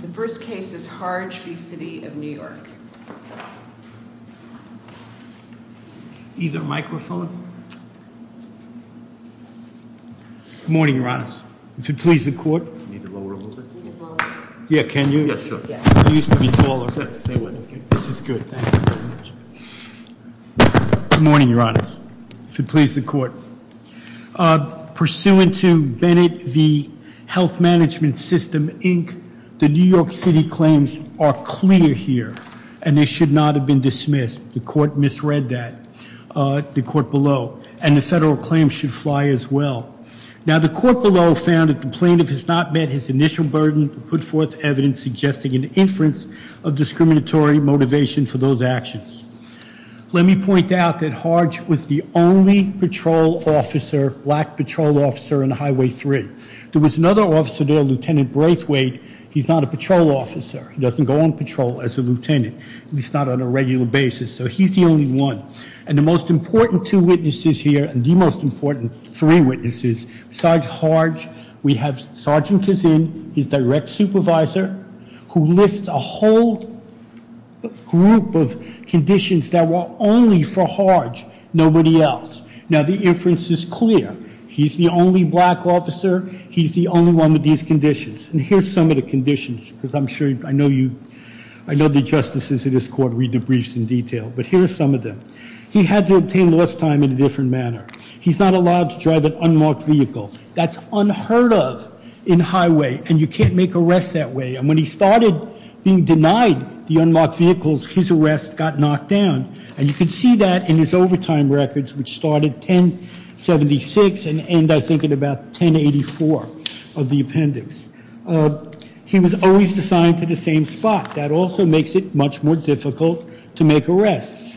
The first case is Harge v. City of New York. Either microphone. Good morning, your honors. If it please the court. Need to lower a little bit. Yeah, can you? Yes, sir. You used to be taller. Say what? This is good, thank you very much. Good morning, your honors. If it please the court. Pursuant to Bennett v. Health Management System, Inc., the New York City claims are clear here, and they should not have been dismissed. The court misread that, the court below. And the federal claims should fly as well. Now, the court below found that the plaintiff has not met his initial burden to put forth evidence suggesting an inference of discriminatory motivation for those actions. Let me point out that Harge was the only patrol officer, black patrol officer, on Highway 3. There was another officer there, Lieutenant Braithwaite. He's not a patrol officer. He doesn't go on patrol as a lieutenant. He's not on a regular basis. So he's the only one. And the most important two witnesses here, and the most important three witnesses, besides Harge, we have Sergeant Kazin, his direct supervisor, who lists a whole group of conditions that were only for Harge, nobody else. Now, the inference is clear. He's the only black officer. He's the only one with these conditions. And here's some of the conditions, because I'm sure I know the justices of this court read the briefs in detail. But here are some of them. He had to obtain less time in a different manner. He's not allowed to drive an unmarked vehicle. That's unheard of in highway, and you can't make arrests that way. And when he started being denied the unmarked vehicles, his arrest got knocked down. And you can see that in his overtime records, which started 1076 and end, I think, at about 1084 of the appendix. He was always assigned to the same spot. That also makes it much more difficult to make arrests.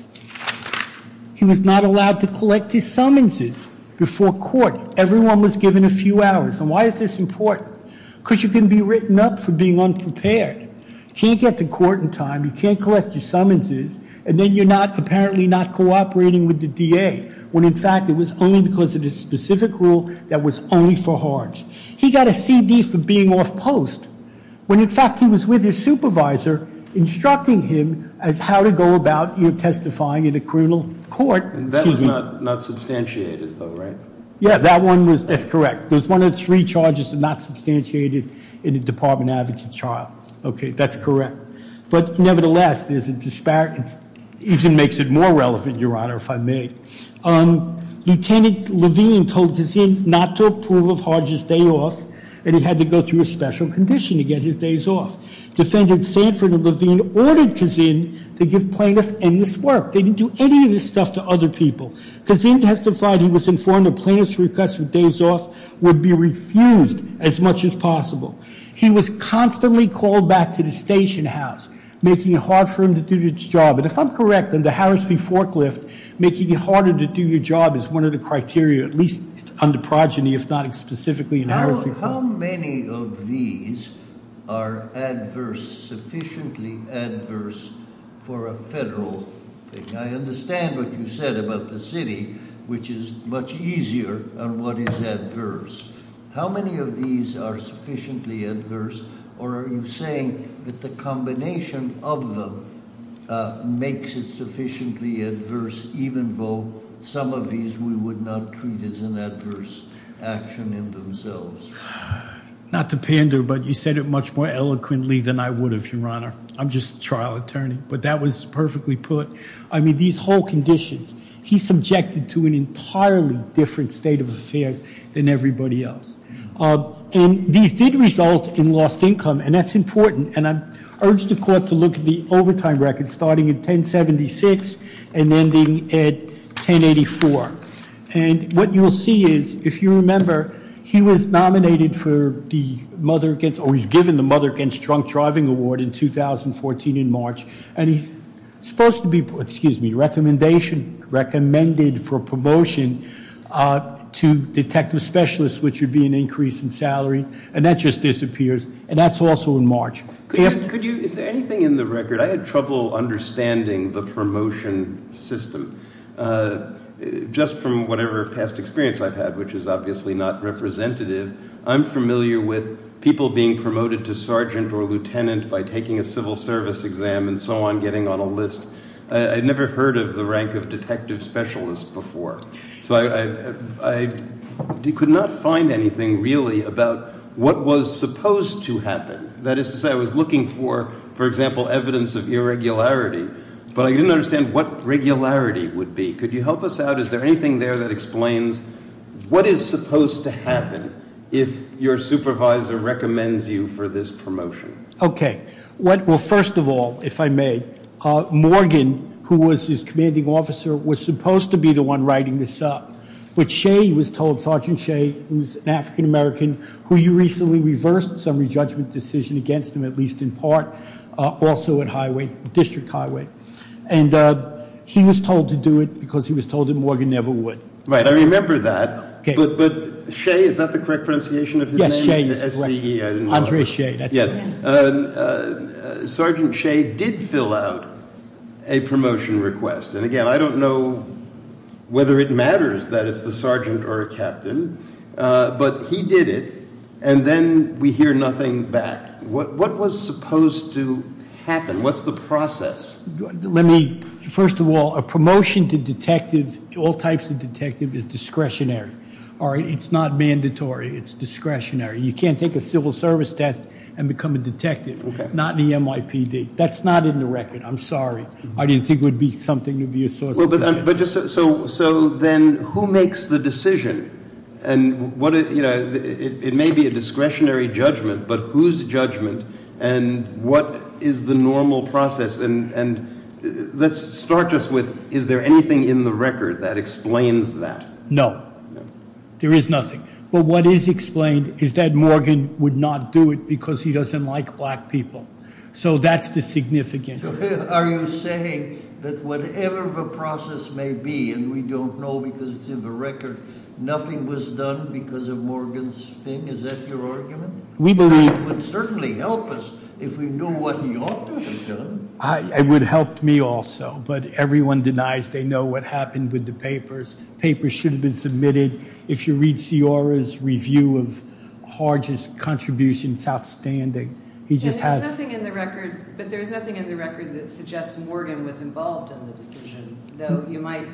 He was not allowed to collect his summonses before court. Everyone was given a few hours. And why is this important? Because you can be written up for being unprepared. Can't get to court in time. You can't collect your summonses. And then you're apparently not cooperating with the DA, when, in fact, it was only because of this specific rule that was only for hards. He got a CD for being off post, when, in fact, he was with his supervisor instructing him as how to go about testifying in a criminal court. And that was not substantiated, though, right? Yeah, that one was. That's correct. There's one of three charges that are not substantiated in a department advocate's trial. OK, that's correct. But nevertheless, there's a disparate. Even makes it more relevant, Your Honor, if I may. Lieutenant Levine told Kazin not to approve of Hodge's day off. And he had to go through a special condition to get his days off. Defendant Sanford and Levine ordered Kazin to give plaintiff endless work. They didn't do any of this stuff to other people. Kazin testified he was informed of plaintiff's request that days off would be refused as much as possible. He was constantly called back to the station house, making it hard for him to do his job. And if I'm correct, under Harris v. Forklift, making it harder to do your job is one of the criteria, at least under progeny, if not specifically in Harris v. Forklift. How many of these are adverse, sufficiently adverse, for a federal thing? I understand what you said about the city, which is much easier, and what is adverse. How many of these are sufficiently adverse? Or are you saying that the combination of them makes it sufficiently adverse, even though some of these we would not treat as an adverse action in themselves? Not to pander, but you said it much more eloquently than I would have, Your Honor. I'm just a trial attorney. But that was perfectly put. I mean, these whole conditions, he's in an entirely different state of affairs than everybody else. And these did result in lost income, and that's important. And I urge the court to look at the overtime record, starting at 1076 and ending at 1084. And what you'll see is, if you remember, he was nominated for the Mother Against, or he was given the Mother Against Drunk Driving Award in 2014 in March. And he's supposed to be, excuse me, recommendation, recommended for promotion to detect a specialist, which would be an increase in salary. And that just disappears. And that's also in March. Could you, is there anything in the record? I had trouble understanding the promotion system. Just from whatever past experience I've had, which is obviously not representative, I'm familiar with people being promoted to sergeant or lieutenant by taking a civil service exam and so on, getting on a list. I'd never heard of the rank of detective specialist before. So I could not find anything really about what was supposed to happen. That is to say, I was looking for, for example, evidence of irregularity, but I didn't understand what regularity would be. Could you help us out? Is there anything there that explains what is supposed to happen if your supervisor recommends you for this promotion? OK. Well, first of all, if I may, Morgan, who was his commanding officer, was supposed to be the one writing this up. But Shea, he was told, Sergeant Shea, who's an African-American, who you recently reversed some re-judgment decision against him, at least in part, also at highway, district highway. And he was told to do it because he was told that Morgan never would. Right, I remember that. But Shea, is that the correct pronunciation of his name? Yes, Shea is correct. S-E-E, I didn't remember. Andre Shea, that's correct. Sergeant Shea did fill out a promotion request. And again, I don't know whether it matters that it's the sergeant or a captain. But he did it. And then we hear nothing back. What was supposed to happen? What's the process? First of all, a promotion to detective, all types of detective, is discretionary. It's not mandatory. It's discretionary. You can't take a civil service test and become a detective. Not in the MIPD. That's not in the record. I'm sorry. I didn't think it would be something to be a source of concern. So then, who makes the decision? And it may be a discretionary judgment, but whose judgment? And what is the normal process? And let's start just with, is there anything in the record that explains that? No. There is nothing. But what is explained is that Morgan would not do it because he doesn't like black people. So that's the significance. Are you saying that whatever the process may be, and we don't know because it's in the record, nothing was done because of Morgan's thing? Is that your argument? We believe it would certainly help us if we knew what he ought to have done. It would have helped me also. But everyone denies they know what happened with the papers. Papers should have been submitted. If you read Ciara's review of Harge's contributions, it's outstanding. He just has to. But there's nothing in the record that suggests Morgan was involved in the decision, though you might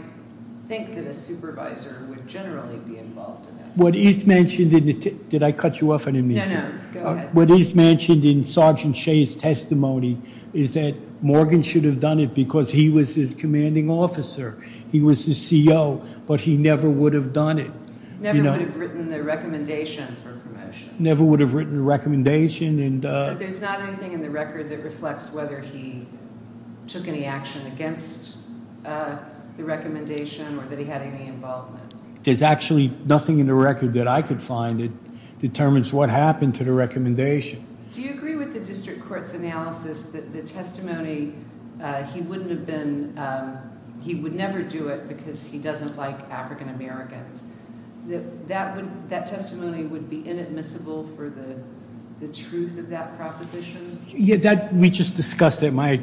think that a supervisor would generally be involved in that. Did I cut you off? No, no, go ahead. What is mentioned in Sergeant Shea's testimony is that Morgan should have done it because he was his commanding officer. He was the CEO, but he never would have done it. Never would have written the recommendation for promotion. Never would have written the recommendation. But there's not anything in the record that reflects whether he took any action against the recommendation or that he had any involvement. There's actually nothing in the record that I could find that determines what happened to the recommendation. Do you agree with the district court's analysis that the testimony, he wouldn't have been, he would never do it because he doesn't like African-Americans? That testimony would be inadmissible for the truth of that proposition? Yeah, we just discussed it, my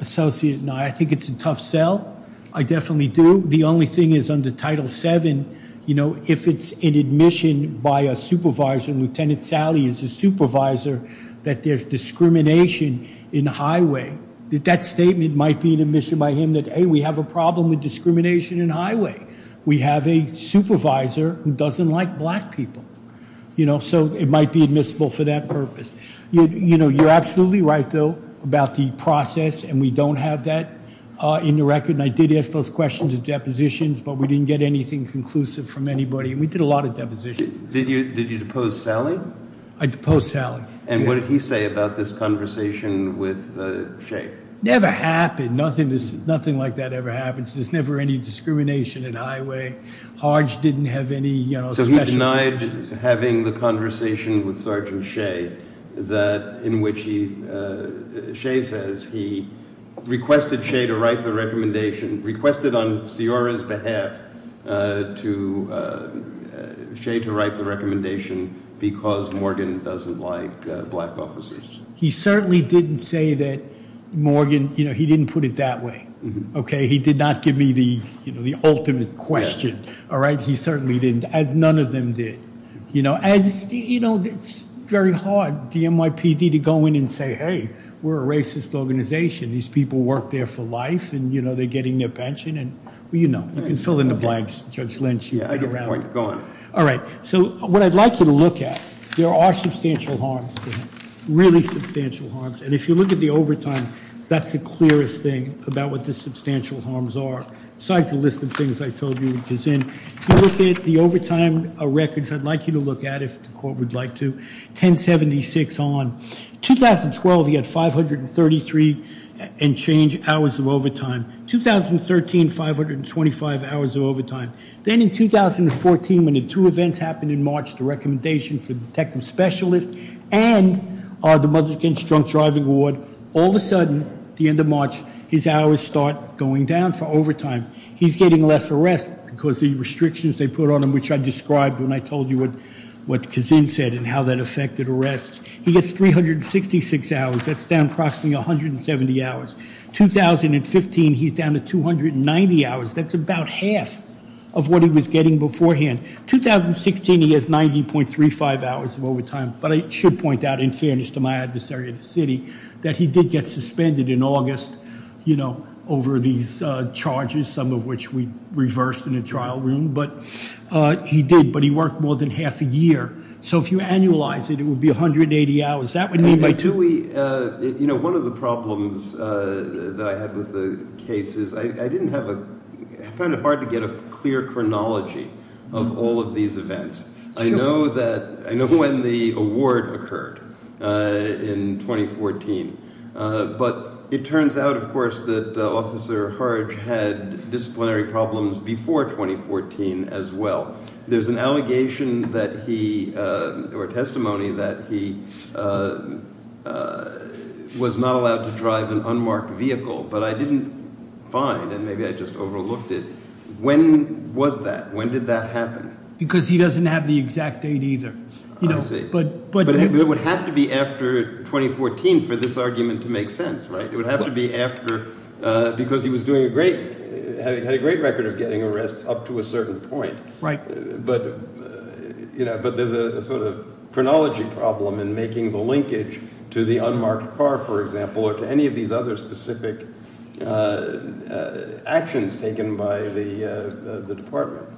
associate and I. I think it's a tough sell. I definitely do. The only thing is under Title VII, if it's an admission by a supervisor, and Lieutenant Sally is a supervisor, that there's discrimination in the highway, that statement might be an admission by him that, hey, we have a problem with discrimination in the highway. We have a supervisor who doesn't like black people. So it might be admissible for that purpose. You're absolutely right, though, about the process. And we don't have that in the record. And I did ask those questions at depositions, but we didn't get anything conclusive from anybody. And we did a lot of depositions. Did you depose Sally? I deposed Sally. And what did he say about this conversation with Shea? Never happened. Nothing like that ever happens. There's never any discrimination in the highway. Harge didn't have any special conditions. So he denied having the conversation with Sergeant Shea, in which Shea says he requested Shea to write the recommendation, requested on Sciorra's behalf to Shea to write the recommendation, because Morgan doesn't like black officers. He certainly didn't say that Morgan, he didn't put it that way. He did not give me the ultimate question. He certainly didn't. None of them did. It's very hard, the NYPD, to go in and say, hey, we're a racist organization. These people work there for life. And they're getting their pension. You know, you can fill in the blanks, Judge Lynch. Yeah, I get the point. Go on. All right. So what I'd like you to look at, there are substantial harms to him, really substantial harms. And if you look at the overtime, that's the clearest thing about what the substantial harms are, besides the list of things I told you he was in. If you look at the overtime records, I'd like you to look at, if the court would like to, 1076 on. 2012, he had 533 and change hours of overtime. 2013, 525 hours of overtime. Then in 2014, when the two events happened in March, the recommendation for the detective specialist and the Mothers Against Drunk Driving Award, all of a sudden, at the end of March, his hours start going down for overtime. He's getting less arrests because the restrictions they put on him, which I described when I told you what Kazin said and how that affected arrests. He gets 366 hours. That's down approximately 170 hours. 2015, he's down to 290 hours. That's about half of what he was getting beforehand. 2016, he has 90.35 hours of overtime. But I should point out, in fairness to my adversary of the city, that he did get suspended in August over these charges, some of which we reversed in the trial room. But he did. But he worked more than half a year. So if you annualize it, it would be 180 hours. That would mean by two weeks. One of the problems that I had with the case is I found it hard to get a clear chronology of all of these events. I know when the award occurred in 2014. But it turns out, of course, that Officer Harge had disciplinary problems before 2014 as well. There's an allegation that he, or testimony that he was not allowed to drive an unmarked vehicle. But I didn't find, and maybe I just overlooked it, when was that? When did that happen? Because he doesn't have the exact date either. I see. But it would have to be after 2014 for this argument to make sense, right? It would have to be after, because he was doing a great, had a great record of getting arrests up to a certain point. But there's a sort of chronology problem in making the linkage to the unmarked car, for example, or to any of these other specific actions taken by the department.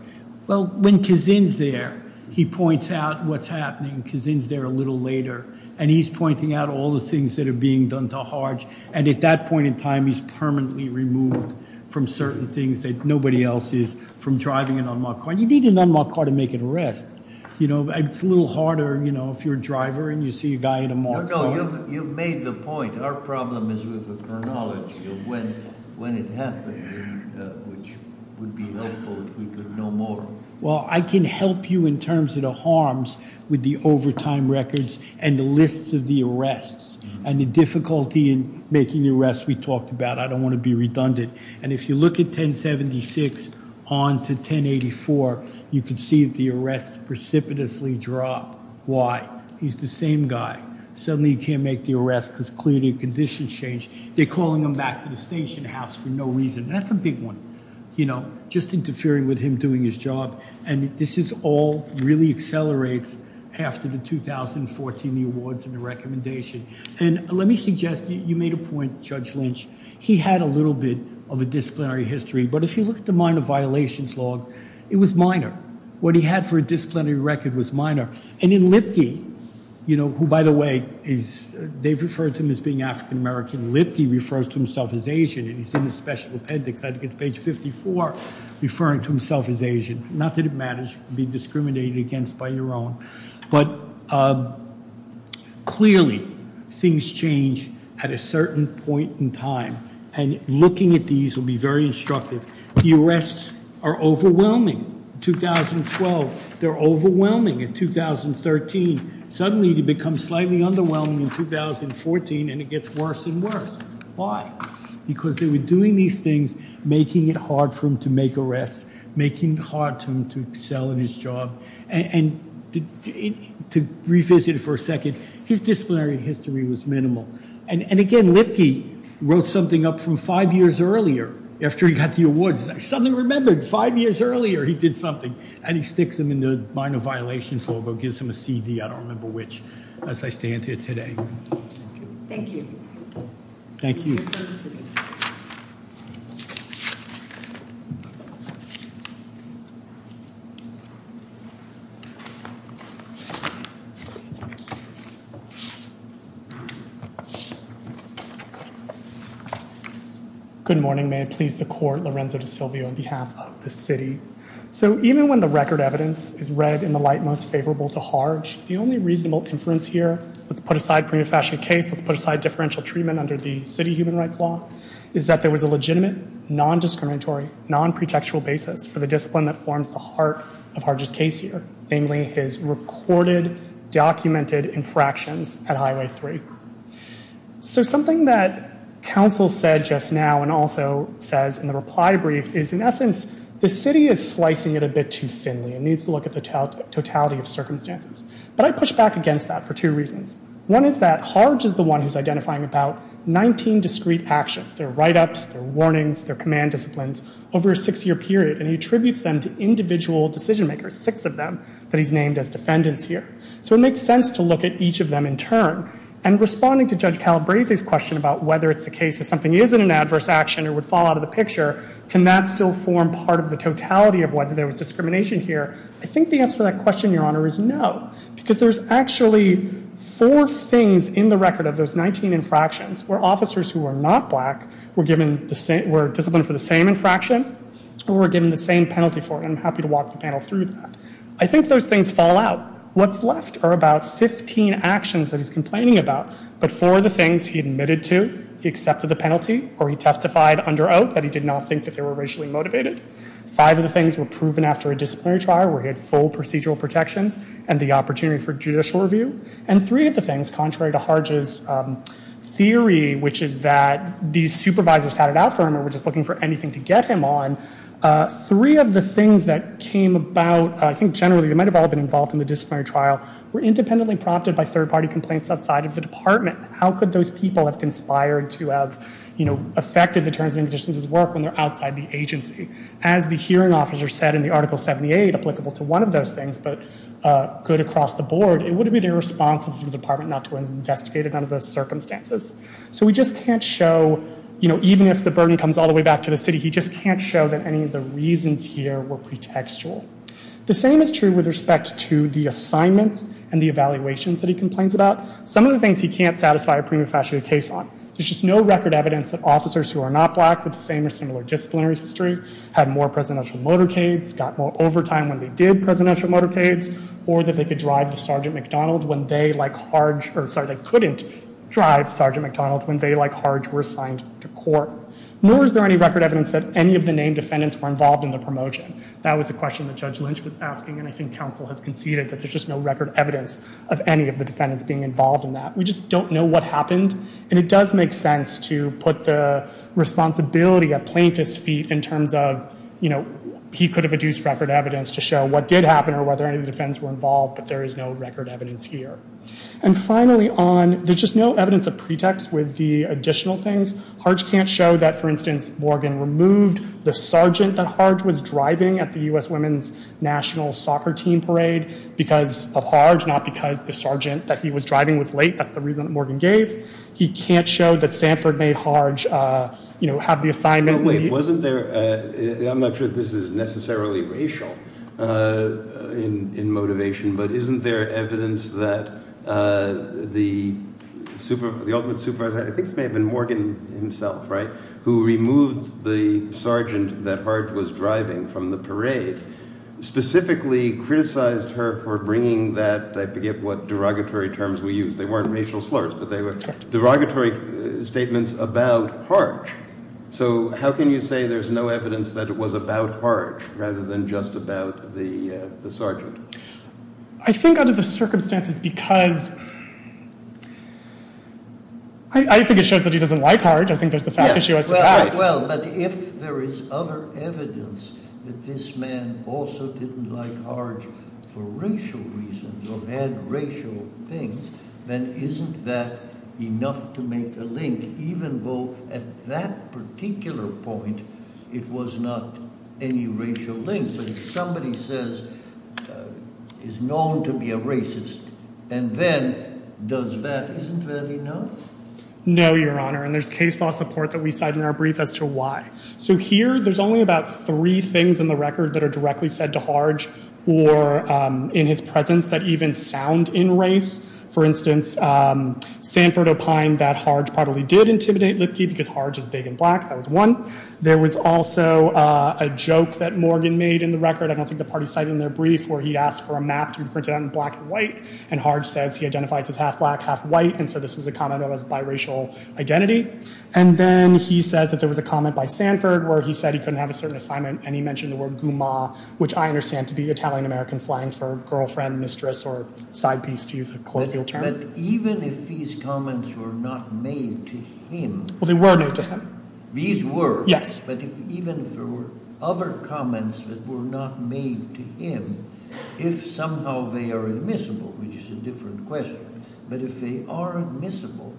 Well, when Kazin's there, he points out what's happening. Kazin's there a little later. And he's pointing out all the things that are being done to Harge. And at that point in time, he's permanently removed from certain things that nobody else is, from driving an unmarked car. You need an unmarked car to make an arrest. It's a little harder if you're a driver and you see a guy in a marked car. You've made the point. Our problem is with the chronology of when it happened, which would be helpful if we could know more. Well, I can help you in terms of the harms with the overtime records and the lists of the arrests and the difficulty in making the arrests we talked about. I don't want to be redundant. And if you look at 1076 on to 1084, you can see the arrests precipitously drop. Why? He's the same guy. Suddenly, he can't make the arrest because clearly, conditions change. They're calling him back to the station house for no reason. That's a big one, just interfering with him doing his job. And this is all really accelerates after the 2014 awards and the recommendation. And let me suggest, you made a point, Judge Lynch. He had a little bit of a disciplinary history. But if you look at the minor violations log, it was minor. What he had for a disciplinary record was minor. And in Lipke, who, by the way, they've referred to him as being African-American. Lipke refers to himself as Asian. And he's in the special appendix. I think it's page 54, referring to himself as Asian. Not that it matters. Be discriminated against by your own. But clearly, things change at a certain point in time. And looking at these will be very instructive. The arrests are overwhelming. 2012, they're overwhelming. In 2013, suddenly, they become slightly underwhelming. In 2014, and it gets worse and worse. Why? Because they were doing these things, making it hard for him to make arrests, making it hard for him to excel in his job. And to revisit it for a second, his disciplinary history was minimal. And again, Lipke wrote something up from five years earlier, after he got the awards. Suddenly remembered, five years earlier, he did something. And he sticks them in the minor violations logo, gives him a CD. I don't remember which, as I stand here today. Thank you. Thank you. Thank you for listening. Thank you. Good morning. May it please the court, Lorenzo DeSilvio on behalf of the city. So even when the record evidence is read in the light most favorable to Harge, the only reasonable inference here, let's put aside prima facie case, let's put aside differential treatment under the city human rights law, is that there was a legitimate, non-discriminatory, non-pretextual basis for the discipline that forms the heart of Harge's case here, namely his recorded, documented infractions at Highway 3. So something that counsel said just now, and also says in the reply brief, is in essence, the city is slicing it a bit too thinly. It needs to look at the totality of circumstances. But I push back against that for two reasons. One is that Harge is the one who's identifying about 19 discrete actions, their write-ups, their warnings, their command disciplines, over a six-year period. And he attributes them to individual decision-makers, six of them, that he's named as defendants here. So it makes sense to look at each of them in turn. And responding to Judge Calabresi's question about whether it's the case if something isn't an adverse action or would fall out of the picture, can that still form part of the totality of whether there was discrimination here? I think the answer to that question, Your Honor, is no. Because there's actually four things in the record of those 19 infractions where officers who are not black were disciplined for the same infraction or were given the same penalty for it. And I'm happy to walk the panel through that. I think those things fall out. What's left are about 15 actions that he's complaining about. But four of the things he admitted to, he accepted the penalty, or he testified under oath that he did not think that they were racially motivated. Five of the things were proven after a disciplinary trial where he had full procedural protections and the opportunity for judicial review. And three of the things, contrary to Harge's theory, which is that these supervisors had it out for him or were just looking for anything to get him on, three of the things that came about, I think generally, they might have all been involved in the disciplinary trial, were independently prompted by third party complaints outside of the department. How could those people have conspired to have affected the terms and conditions of his work when they're outside the agency? As the hearing officer said in the Article 78, applicable to one of those things, but good across the board, it would be the response of the department not to investigate it under those circumstances. So we just can't show, even if the burden comes all the way back to the city, he just can't show that any of the reasons here were pretextual. The same is true with respect to the assignments and the evaluations that he complains about. Some of the things he can't satisfy a prima facie case on. There's just no record evidence that officers who are not black with the same or similar disciplinary history had more presidential motorcades, got more overtime when they did presidential motorcades, or that they could drive to Sergeant McDonald when they, like Harge, or sorry, they couldn't drive Sergeant McDonald when they, like Harge, were assigned to court. Nor is there any record evidence that any of the named defendants were involved in the promotion. That was a question that Judge Lynch was asking, and I think counsel has conceded that there's just no record evidence of any of the defendants being involved in that. We just don't know what happened. And it does make sense to put the responsibility at plaintiff's feet in terms of, you know, he could have adduced record evidence to show what did happen or whether any of the defendants were involved, but there is no record evidence here. And finally on, there's just no evidence of pretext with the additional things. Harge can't show that, for instance, Morgan removed the sergeant that Harge was driving at the US Women's National Soccer Team parade because of Harge, not because the sergeant that he was driving was late. That's the reason that Morgan gave. He can't show that Sanford made Harge, you know, have the assignment. Wasn't there, I'm not sure this is necessarily racial in motivation, but isn't there evidence that the ultimate supervisor, I think it may have been Morgan himself, right, who removed the sergeant that Harge was driving from the parade, specifically criticized her for bringing that, I forget what derogatory terms we used. They weren't racial slurs, but they were derogatory statements about Harge. So how can you say there's no evidence that it was about Harge, rather than just about the sergeant? I think under the circumstances, because I think it shows that he doesn't like Harge. I think there's the fact issue. Well, but if there is other evidence that this man also didn't like Harge for racial reasons or had racial things, then isn't that enough to make a link, even though at that particular point, it was not any racial link? But if somebody says, is known to be a racist, and then does that, isn't that enough? No, Your Honor, and there's case law support that we cite in our brief as to why. So here, there's only about three things in the record that are directly said to Harge or in his presence that even sound in race. For instance, Sanford opined that Harge probably did intimidate Lipke because Harge is big and black. That was one. There was also a joke that Morgan made in the record. I don't think the party cited in their brief, where he asked for a map to be printed out in black and white. And Harge says he identifies as half black, half white. And so this was a comment of his biracial identity. And then he says that there was a comment by Sanford where he said he couldn't have a certain assignment, and he mentioned the word guma, which I understand to be Italian-American slang for girlfriend, mistress, or side piece, to use a colloquial term. But even if these comments were not made to him. Well, they were made to him. These were. Yes. But even if there were other comments that were not made to him, if somehow they are admissible, which is a different question. But if they are admissible,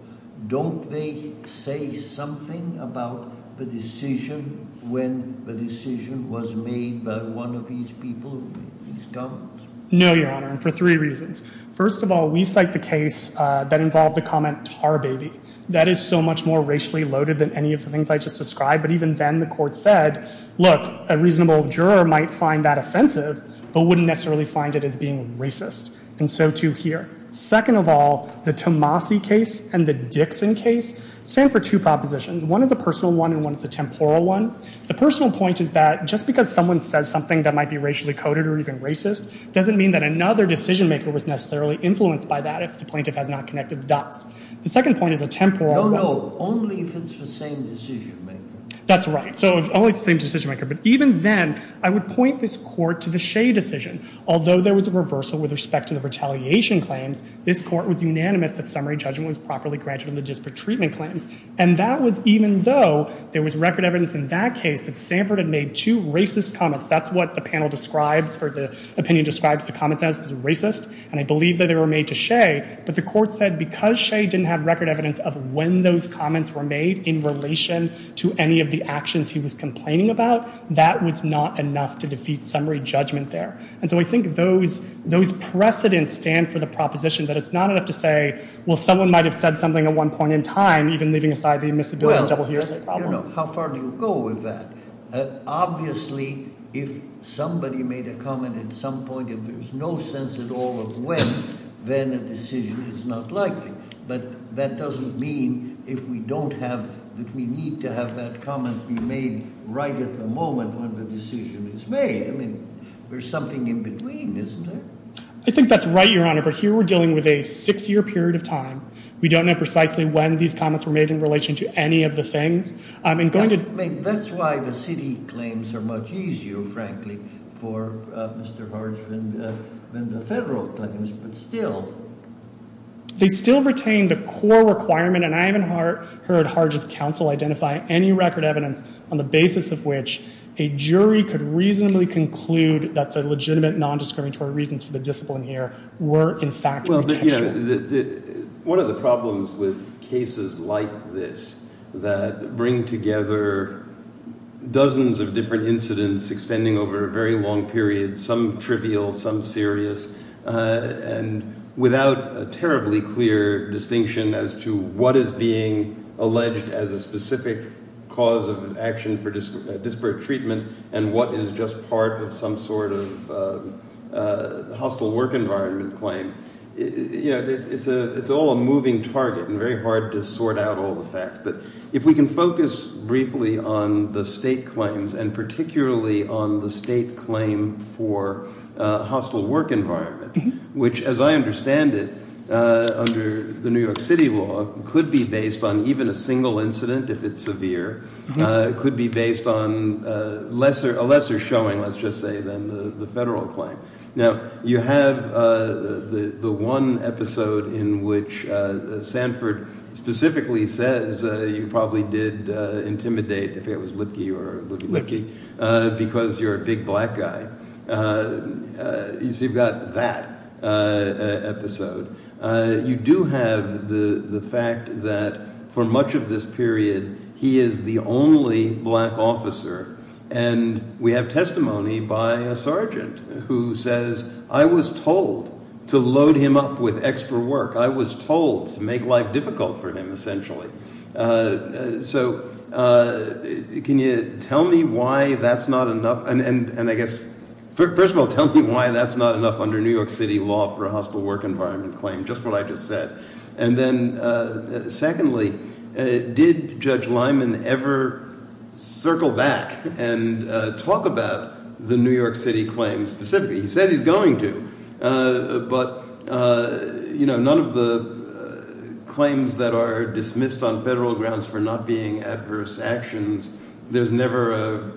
don't they say something about the decision when the decision was made by one of these people who made these comments? No, Your Honor, and for three reasons. First of all, we cite the case that involved the comment tar baby. That is so much more racially loaded than any of the things I just described. But even then, the court said, look, a reasonable juror might find that offensive, but wouldn't necessarily find it as being racist. And so, too, here. Second of all, the Tomasi case and the Dixon case stand for two propositions. One is a personal one, and one is a temporal one. The personal point is that just because someone says something that might be racially coded or even racist doesn't mean that another decision maker was necessarily influenced by that if the plaintiff has not connected the dots. The second point is a temporal one. No, no, only if it's the same decision maker. That's right. So only if it's the same decision maker. But even then, I would point this court to the Shea decision. Although there was a reversal with respect to the retaliation claims, this court was unanimous that summary judgment was properly granted on the disparate treatment claims. And that was even though there was record evidence in that case that Sanford had made two racist comments. That's what the panel describes, or the opinion describes the comments as, is racist. And I believe that they were made to Shea. But the court said, because Shea didn't have record evidence of when those comments were made in relation to any of the actions he was complaining about, that was not enough to defeat summary judgment there. And so I think those precedents stand for the proposition that it's not enough to say, well, someone might have said something at one point in time, even leaving aside the admissibility of double hearsay problem. How far do you go with that? Obviously, if somebody made a comment at some point and there's no sense at all of when, then a decision is not likely. But that doesn't mean that we need to have that comment be made right at the moment when the decision is made. I mean, there's something in between, isn't there? I think that's right, Your Honor. But here we're dealing with a six-year period of time. We don't know precisely when these comments were made in relation to any of the things. That's why the city claims are much easier, frankly, for Mr. Hart's vendor federal claims, but still. They still retain the core requirement, and I haven't heard Hargett's counsel identify any record evidence on the basis of which a jury could reasonably conclude that the legitimate nondiscriminatory reasons for the discipline here were, in fact, intentional. One of the problems with cases like this that bring together dozens of different incidents extending over a very long period, some trivial, some serious, and without a terribly clear distinction as to what is being alleged as a specific cause of action for disparate treatment, and what is just part of some sort of hostile work environment claim, it's all a moving target and very hard to sort out all the facts. But if we can focus briefly on the state claims, and particularly on the state claim for hostile work environment, which, as I understand it, under the New York City law, could be based on even a single incident if it's severe, could be based on a lesser showing, let's just say, than the federal claim. Now, you have the one episode in which Sanford specifically says you probably did intimidate, if it was Lipke or Lipke, because you're a big black guy. You've got that episode. You do have the fact that for much of this period, he is the only black officer. And we have testimony by a sergeant who says, I was told to load him up with extra work. I was told to make life difficult for him, essentially. So can you tell me why that's not enough? And I guess, first of all, tell me why that's not enough under New York City law for a hostile work environment claim, just what I just said. And then secondly, did Judge Lyman ever circle back and talk about the New York City claims specifically? He said he's going to. But none of the claims that are dismissed on federal grounds for not being adverse actions, there's never a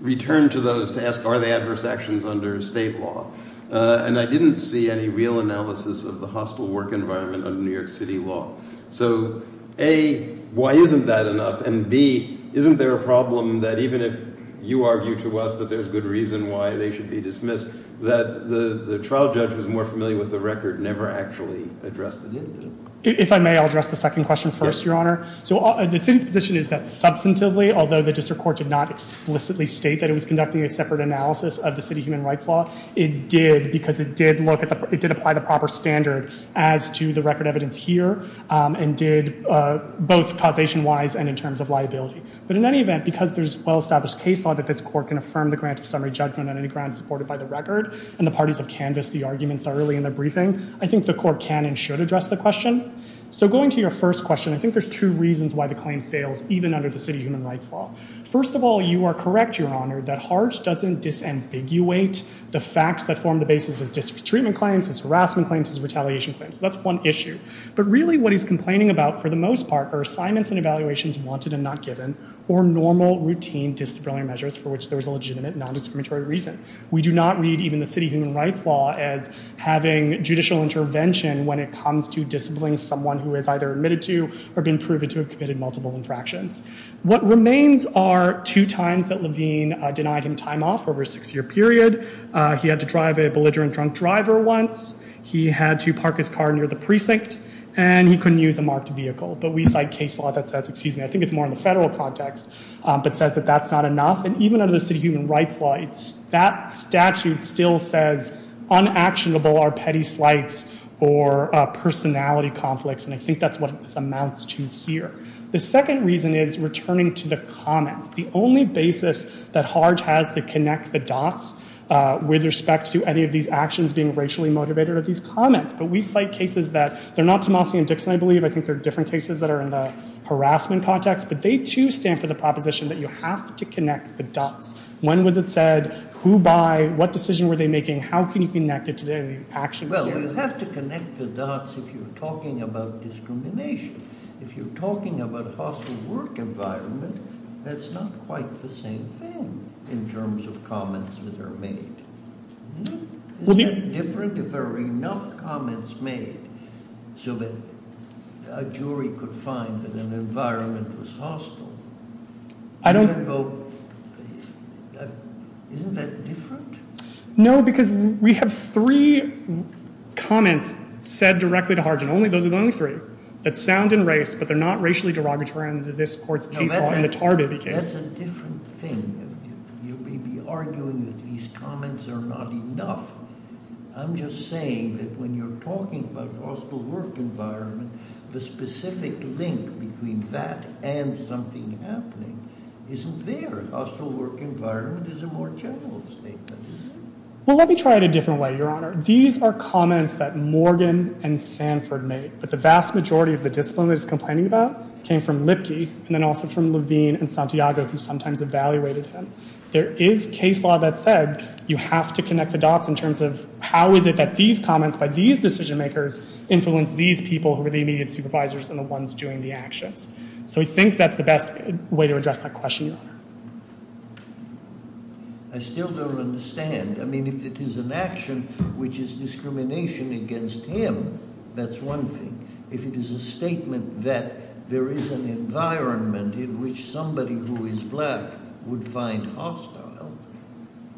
return to those to ask, are they adverse actions under state law? And I didn't see any real analysis of the hostile work environment under New York City law. So A, why isn't that enough? And B, isn't there a problem that even if you argue to us that there's good reason why they should be dismissed, that the trial judge was more familiar with the record, never actually addressed it in? If I may, I'll address the second question first, Your Honor. So the city's position is that substantively, although the district court did not explicitly state that it was conducting a separate analysis of the city human rights law, it did because it did apply the proper standard as to the record evidence here, and did both causation-wise and in terms of liability. But in any event, because there's well-established case law that this court can affirm the grant of summary judgment on any grant supported by the record, and the parties have canvassed the argument thoroughly in the briefing, I think the court can and should address the question. So going to your first question, I think there's two reasons why the claim fails, even under the city human rights law. First of all, you are correct, Your Honor, that Hart doesn't disambiguate the facts that form the basis of his treatment claims, his harassment claims, his retaliation claims. So that's one issue. But really, what he's complaining about, for the most part, are assignments and evaluations wanted and not given, or normal, routine disciplinary measures for which there is a legitimate nondiscriminatory reason. We do not read even the city human rights law as having judicial intervention when it comes to disciplining someone who has either admitted to or been proven to have committed multiple infractions. What remains are two times that Levine denied him time off over a six-year period. He had to drive a belligerent drunk driver once. He had to park his car near the precinct. And he couldn't use a marked vehicle. But we cite case law that says, excuse me, I think it's more in the federal context, but says that that's not enough. And even under the city human rights law, that statute still says, unactionable are petty slights or personality conflicts. And I think that's what this amounts to here. The second reason is returning to the comments. The only basis that Harge has to connect the dots with respect to any of these actions being racially motivated are these comments. But we cite cases that, they're not Tomasi and Dixon, I believe. I think they're different cases that are in the harassment context. But they, too, stand for the proposition that you have to connect the dots. When was it said, who by, what decision were they making, how can you connect it to the actions here? Well, you have to connect the dots if you're talking about discrimination. If you're talking about a hostile work environment, that's not quite the same thing in terms of comments that are made. Isn't that different if there are enough comments made so that a jury could find that an environment was hostile? I don't think so. Isn't that different? No, because we have three comments said directly to Harge, and those are the only three, that sound in race, but they're not racially derogatory under this court's case law in the Tarbiby case. No, that's a different thing. You may be arguing that these comments are not enough. I'm just saying that when you're talking about a hostile work environment, the specific link between that and something happening isn't there. A hostile work environment is a more general statement. Well, let me try it a different way, Your Honor. These are comments that Morgan and Sanford made, but the vast majority of the discipline that it's complaining about came from Lipke, and then also from Levine and Santiago, who sometimes evaluated them. There is case law that said you have to connect the dots in terms of how is it that these comments by these decision-makers influence these people who are the immediate supervisors and the ones doing the actions. So I think that's the best way to address that question, Your Honor. I still don't understand. I mean, if it is an action which is discrimination against him, that's one thing. If it is a statement that there is an environment in which somebody who is black would find hostile,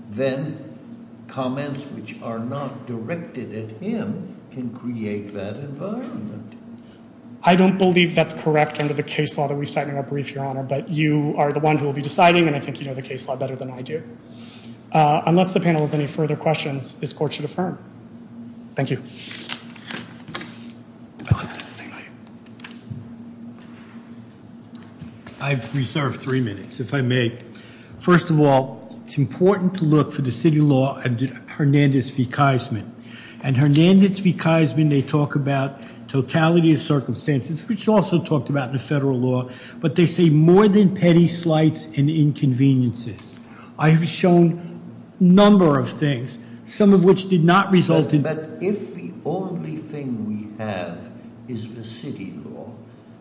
then comments which are not directed at him can create that environment. I don't believe that's correct under the case law that we cite in our brief, Your Honor, but you are the one who will be deciding, and I think you know the case law better than I do. Unless the panel has any further questions, this court should affirm. Thank you. I'd like to make a statement here. I've reserved three minutes, if I may. First of all, it's important to look for the city law under Hernandez v. Kaisman. And Hernandez v. Kaisman, they talk about totality of circumstances, which is also talked about in the federal law. But they say more than petty slights and inconveniences. I have shown a number of things, some of which did not result in that. But if the only thing we have is the city law,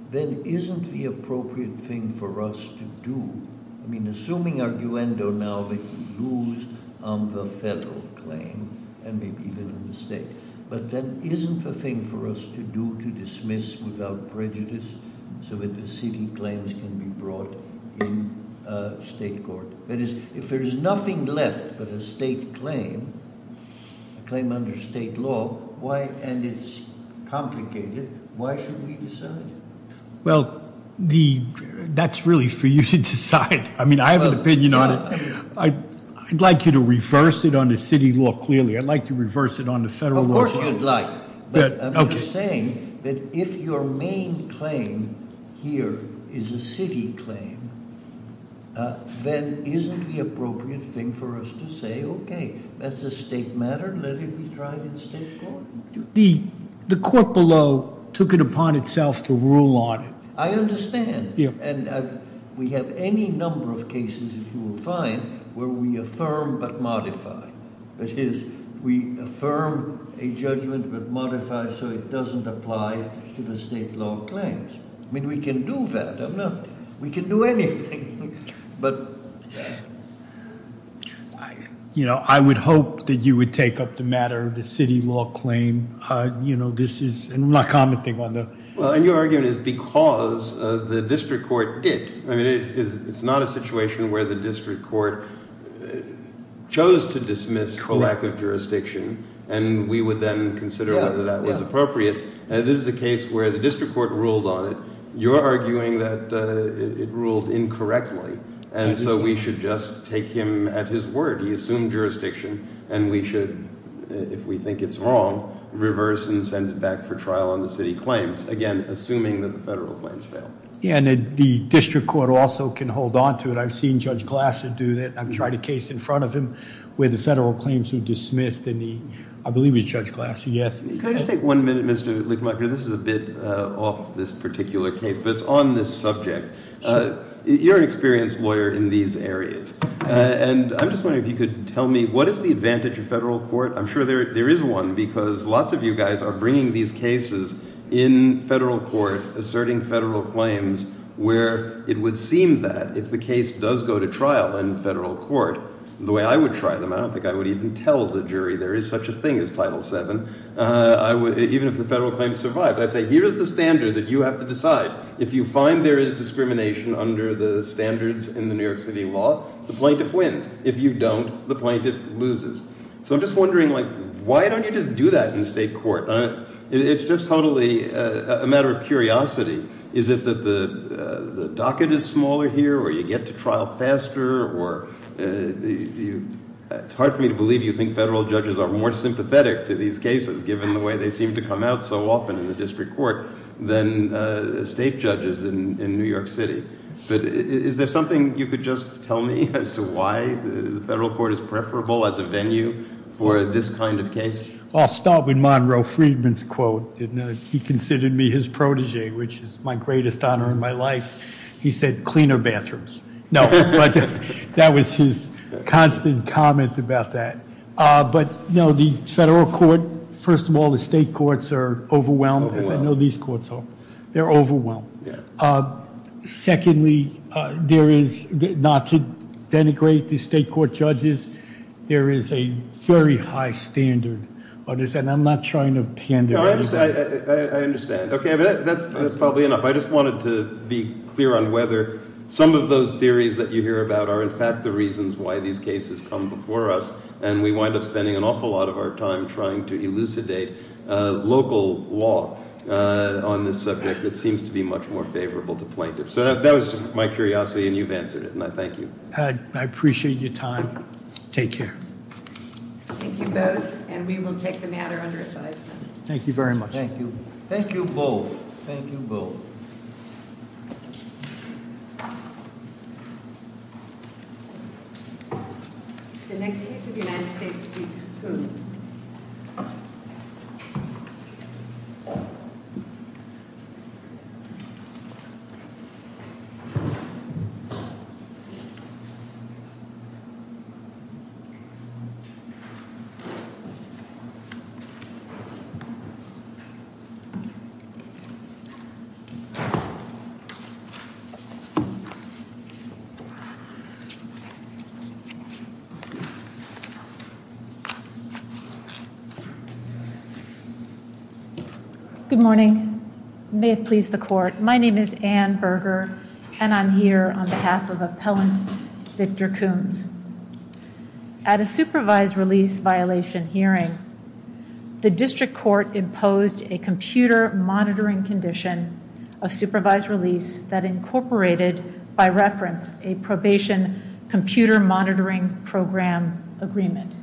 then isn't the appropriate thing for us to do? I mean, assuming our duendo now that we lose on the federal claim, and maybe even on the state, but then isn't the thing for us to do to dismiss without prejudice so that the city claims can be brought in state court? That is, if there is nothing left but a state claim, a claim under state law, and it's complicated, why should we decide? Well, that's really for you to decide. I mean, I have an opinion on it. I'd like you to reverse it on the city law, clearly. I'd like to reverse it on the federal law. Of course you'd like. But I'm just saying that if your main claim here is a city claim, then isn't the appropriate thing for us to say, OK, that's a state matter. Let it be tried in state court. The court below took it upon itself to rule on it. I understand. And we have any number of cases, if you will find, where we affirm but modify. That is, we affirm a judgment but modify so it doesn't apply to the state law claims. I mean, we can do that. We can do anything. But I would hope that you would take up the matter of the city law claim. You know, this is not commenting on the. Well, and your argument is because the district court did. I mean, it's not a situation where the district court chose to dismiss a lack of jurisdiction and we would then consider whether that was appropriate. This is a case where the district court ruled on it. You're arguing that it ruled incorrectly. And so we should just take him at his word. He assumed jurisdiction. And we should, if we think it's wrong, reverse and send it back for trial on the city claims, again, assuming that the federal claims fail. Yeah, and the district court also can hold on to it. I've seen Judge Glasser do that. I've tried a case in front of him where the federal claims were dismissed. And I believe it was Judge Glasser, yes. Can I just take one minute, Mr. Lickmarker? This is a bit off this particular case, but it's on this subject. You're an experienced lawyer in these areas. And I'm just wondering if you could tell me, what is the advantage of federal court? I'm sure there is one, because lots of you guys are bringing these cases in federal court, asserting federal claims, where it would seem that if the case does go to trial in federal court the way I would try them, I don't think I would even tell the jury there is such a thing as Title VII. Even if the federal claims survived, I'd say, here's the standard that you have to decide. If you find there is discrimination under the standards in the New York City law, the plaintiff wins. If you don't, the plaintiff loses. So I'm just wondering, why don't you just do that in state court? It's just totally a matter of curiosity. Is it that the docket is smaller here, or you get to trial faster? It's hard for me to believe you think federal judges are more interested in these cases, given the way they seem to come out so often in the district court, than state judges in New York City. But is there something you could just tell me as to why the federal court is preferable as a venue for this kind of case? I'll start with Monroe Friedman's quote. He considered me his protege, which is my greatest honor in my life. He said, cleaner bathrooms. No, but that was his constant comment about that. But the federal court, first of all, the state courts are overwhelmed, as I know these courts are. They're overwhelmed. Secondly, not to denigrate the state court judges, there is a very high standard. I'm not trying to pander anything. I understand. OK, that's probably enough. I just wanted to be clear on whether some of those theories that you hear about are, in fact, the reasons why these cases come before us. And we wind up spending an awful lot of our time trying to elucidate local law on this subject that seems to be much more favorable to plaintiffs. So that was my curiosity, and you've answered it. And I thank you. I appreciate your time. Take care. Thank you both. And we will take the matter under advisement. Thank you very much. Thank you. Thank you both. Thank you both. Thank you. The next case is United States v. Coons. Good morning. May it please the court, my name is Anne Berger, and I'm here on behalf of Appellant Victor Coons. At a supervised release violation hearing, the district court imposed a computer monitoring condition The court ruled that the plaintiff's testimony of supervised release that incorporated by reference a probation computer monitoring program agreement.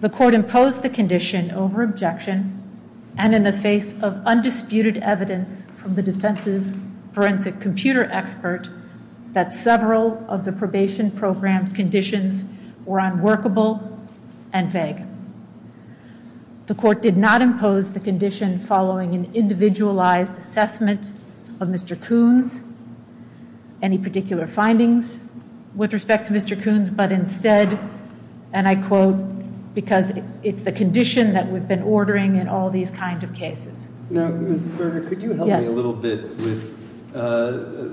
The court imposed the condition over objection and in the face of undisputed evidence from the defense's forensic computer expert that several of the probation program's conditions were unworkable and vague. The court did not impose the condition following an individualized assessment of Mr. Coons, any particular findings with respect to Mr. Coons, but instead, and I quote, because it's the condition that we've been ordering in all these kinds of cases. Now, Ms. Berger, could you help me a little bit with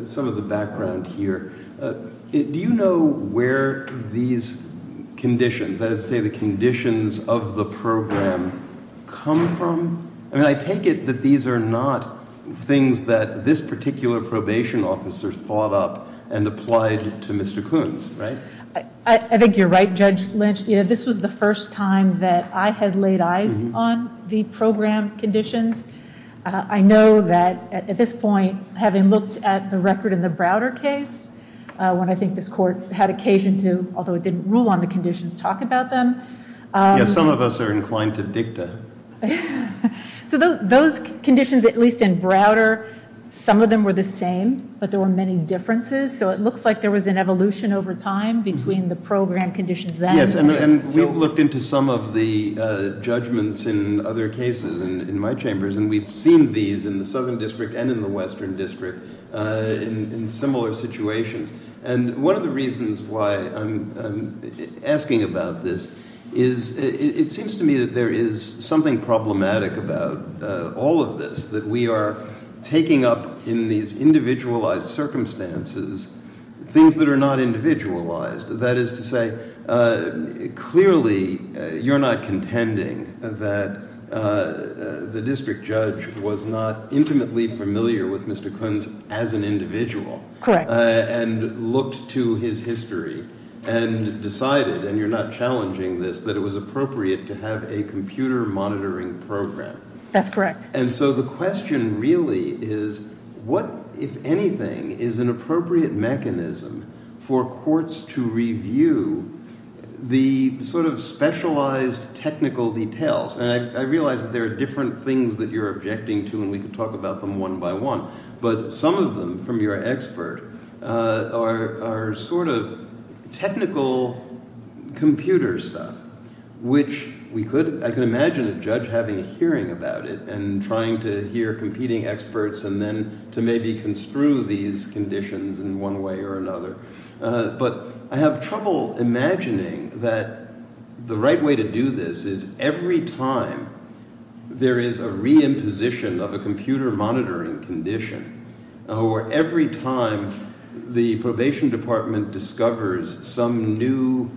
some of the background here? Do you know where these conditions, that is to say, the conditions of the program, come from? I take it that these are not things that this particular probation officer thought up and applied to Mr. Coons, right? I think you're right, Judge Lynch. This was the first time that I had laid eyes on the program conditions. I know that at this point, having looked at the record in the Browder case, when I think this court had occasion to, although it didn't rule on the conditions, talk about them. Yeah, some of us are inclined to dicta. So those conditions, at least in Browder, some of them were the same, but there were many differences. So it looks like there was an evolution over time between the program conditions then and then. Yes, and we've looked into some of the judgments in other cases in my chambers, and we've seen these in the Southern District and in the Western District in similar situations. And one of the reasons why I'm asking about this is it seems to me that there is something problematic about all of this, that we are taking up in these individualized circumstances things that are not individualized. That is to say, clearly, you're not contending that the district judge was not intimately familiar with Mr. Coons as an individual. Correct. And looked to his history and decided, and you're not challenging this, that it was appropriate to have a computer monitoring program. That's correct. And so the question really is, what, if anything, is an appropriate mechanism for courts to review the sort of specialized technical details? And I realize that there are different things that you're objecting to, and we could talk about them one by one, but some of them from your expert are sort of technical computer stuff, which we could. I can imagine a judge having a hearing about it and trying to hear competing experts and then to maybe construe these conditions in one way or another. But I have trouble imagining that the right way to do this is every time there is a re-imposition of a computer monitoring condition, or every time the probation department discovers some new.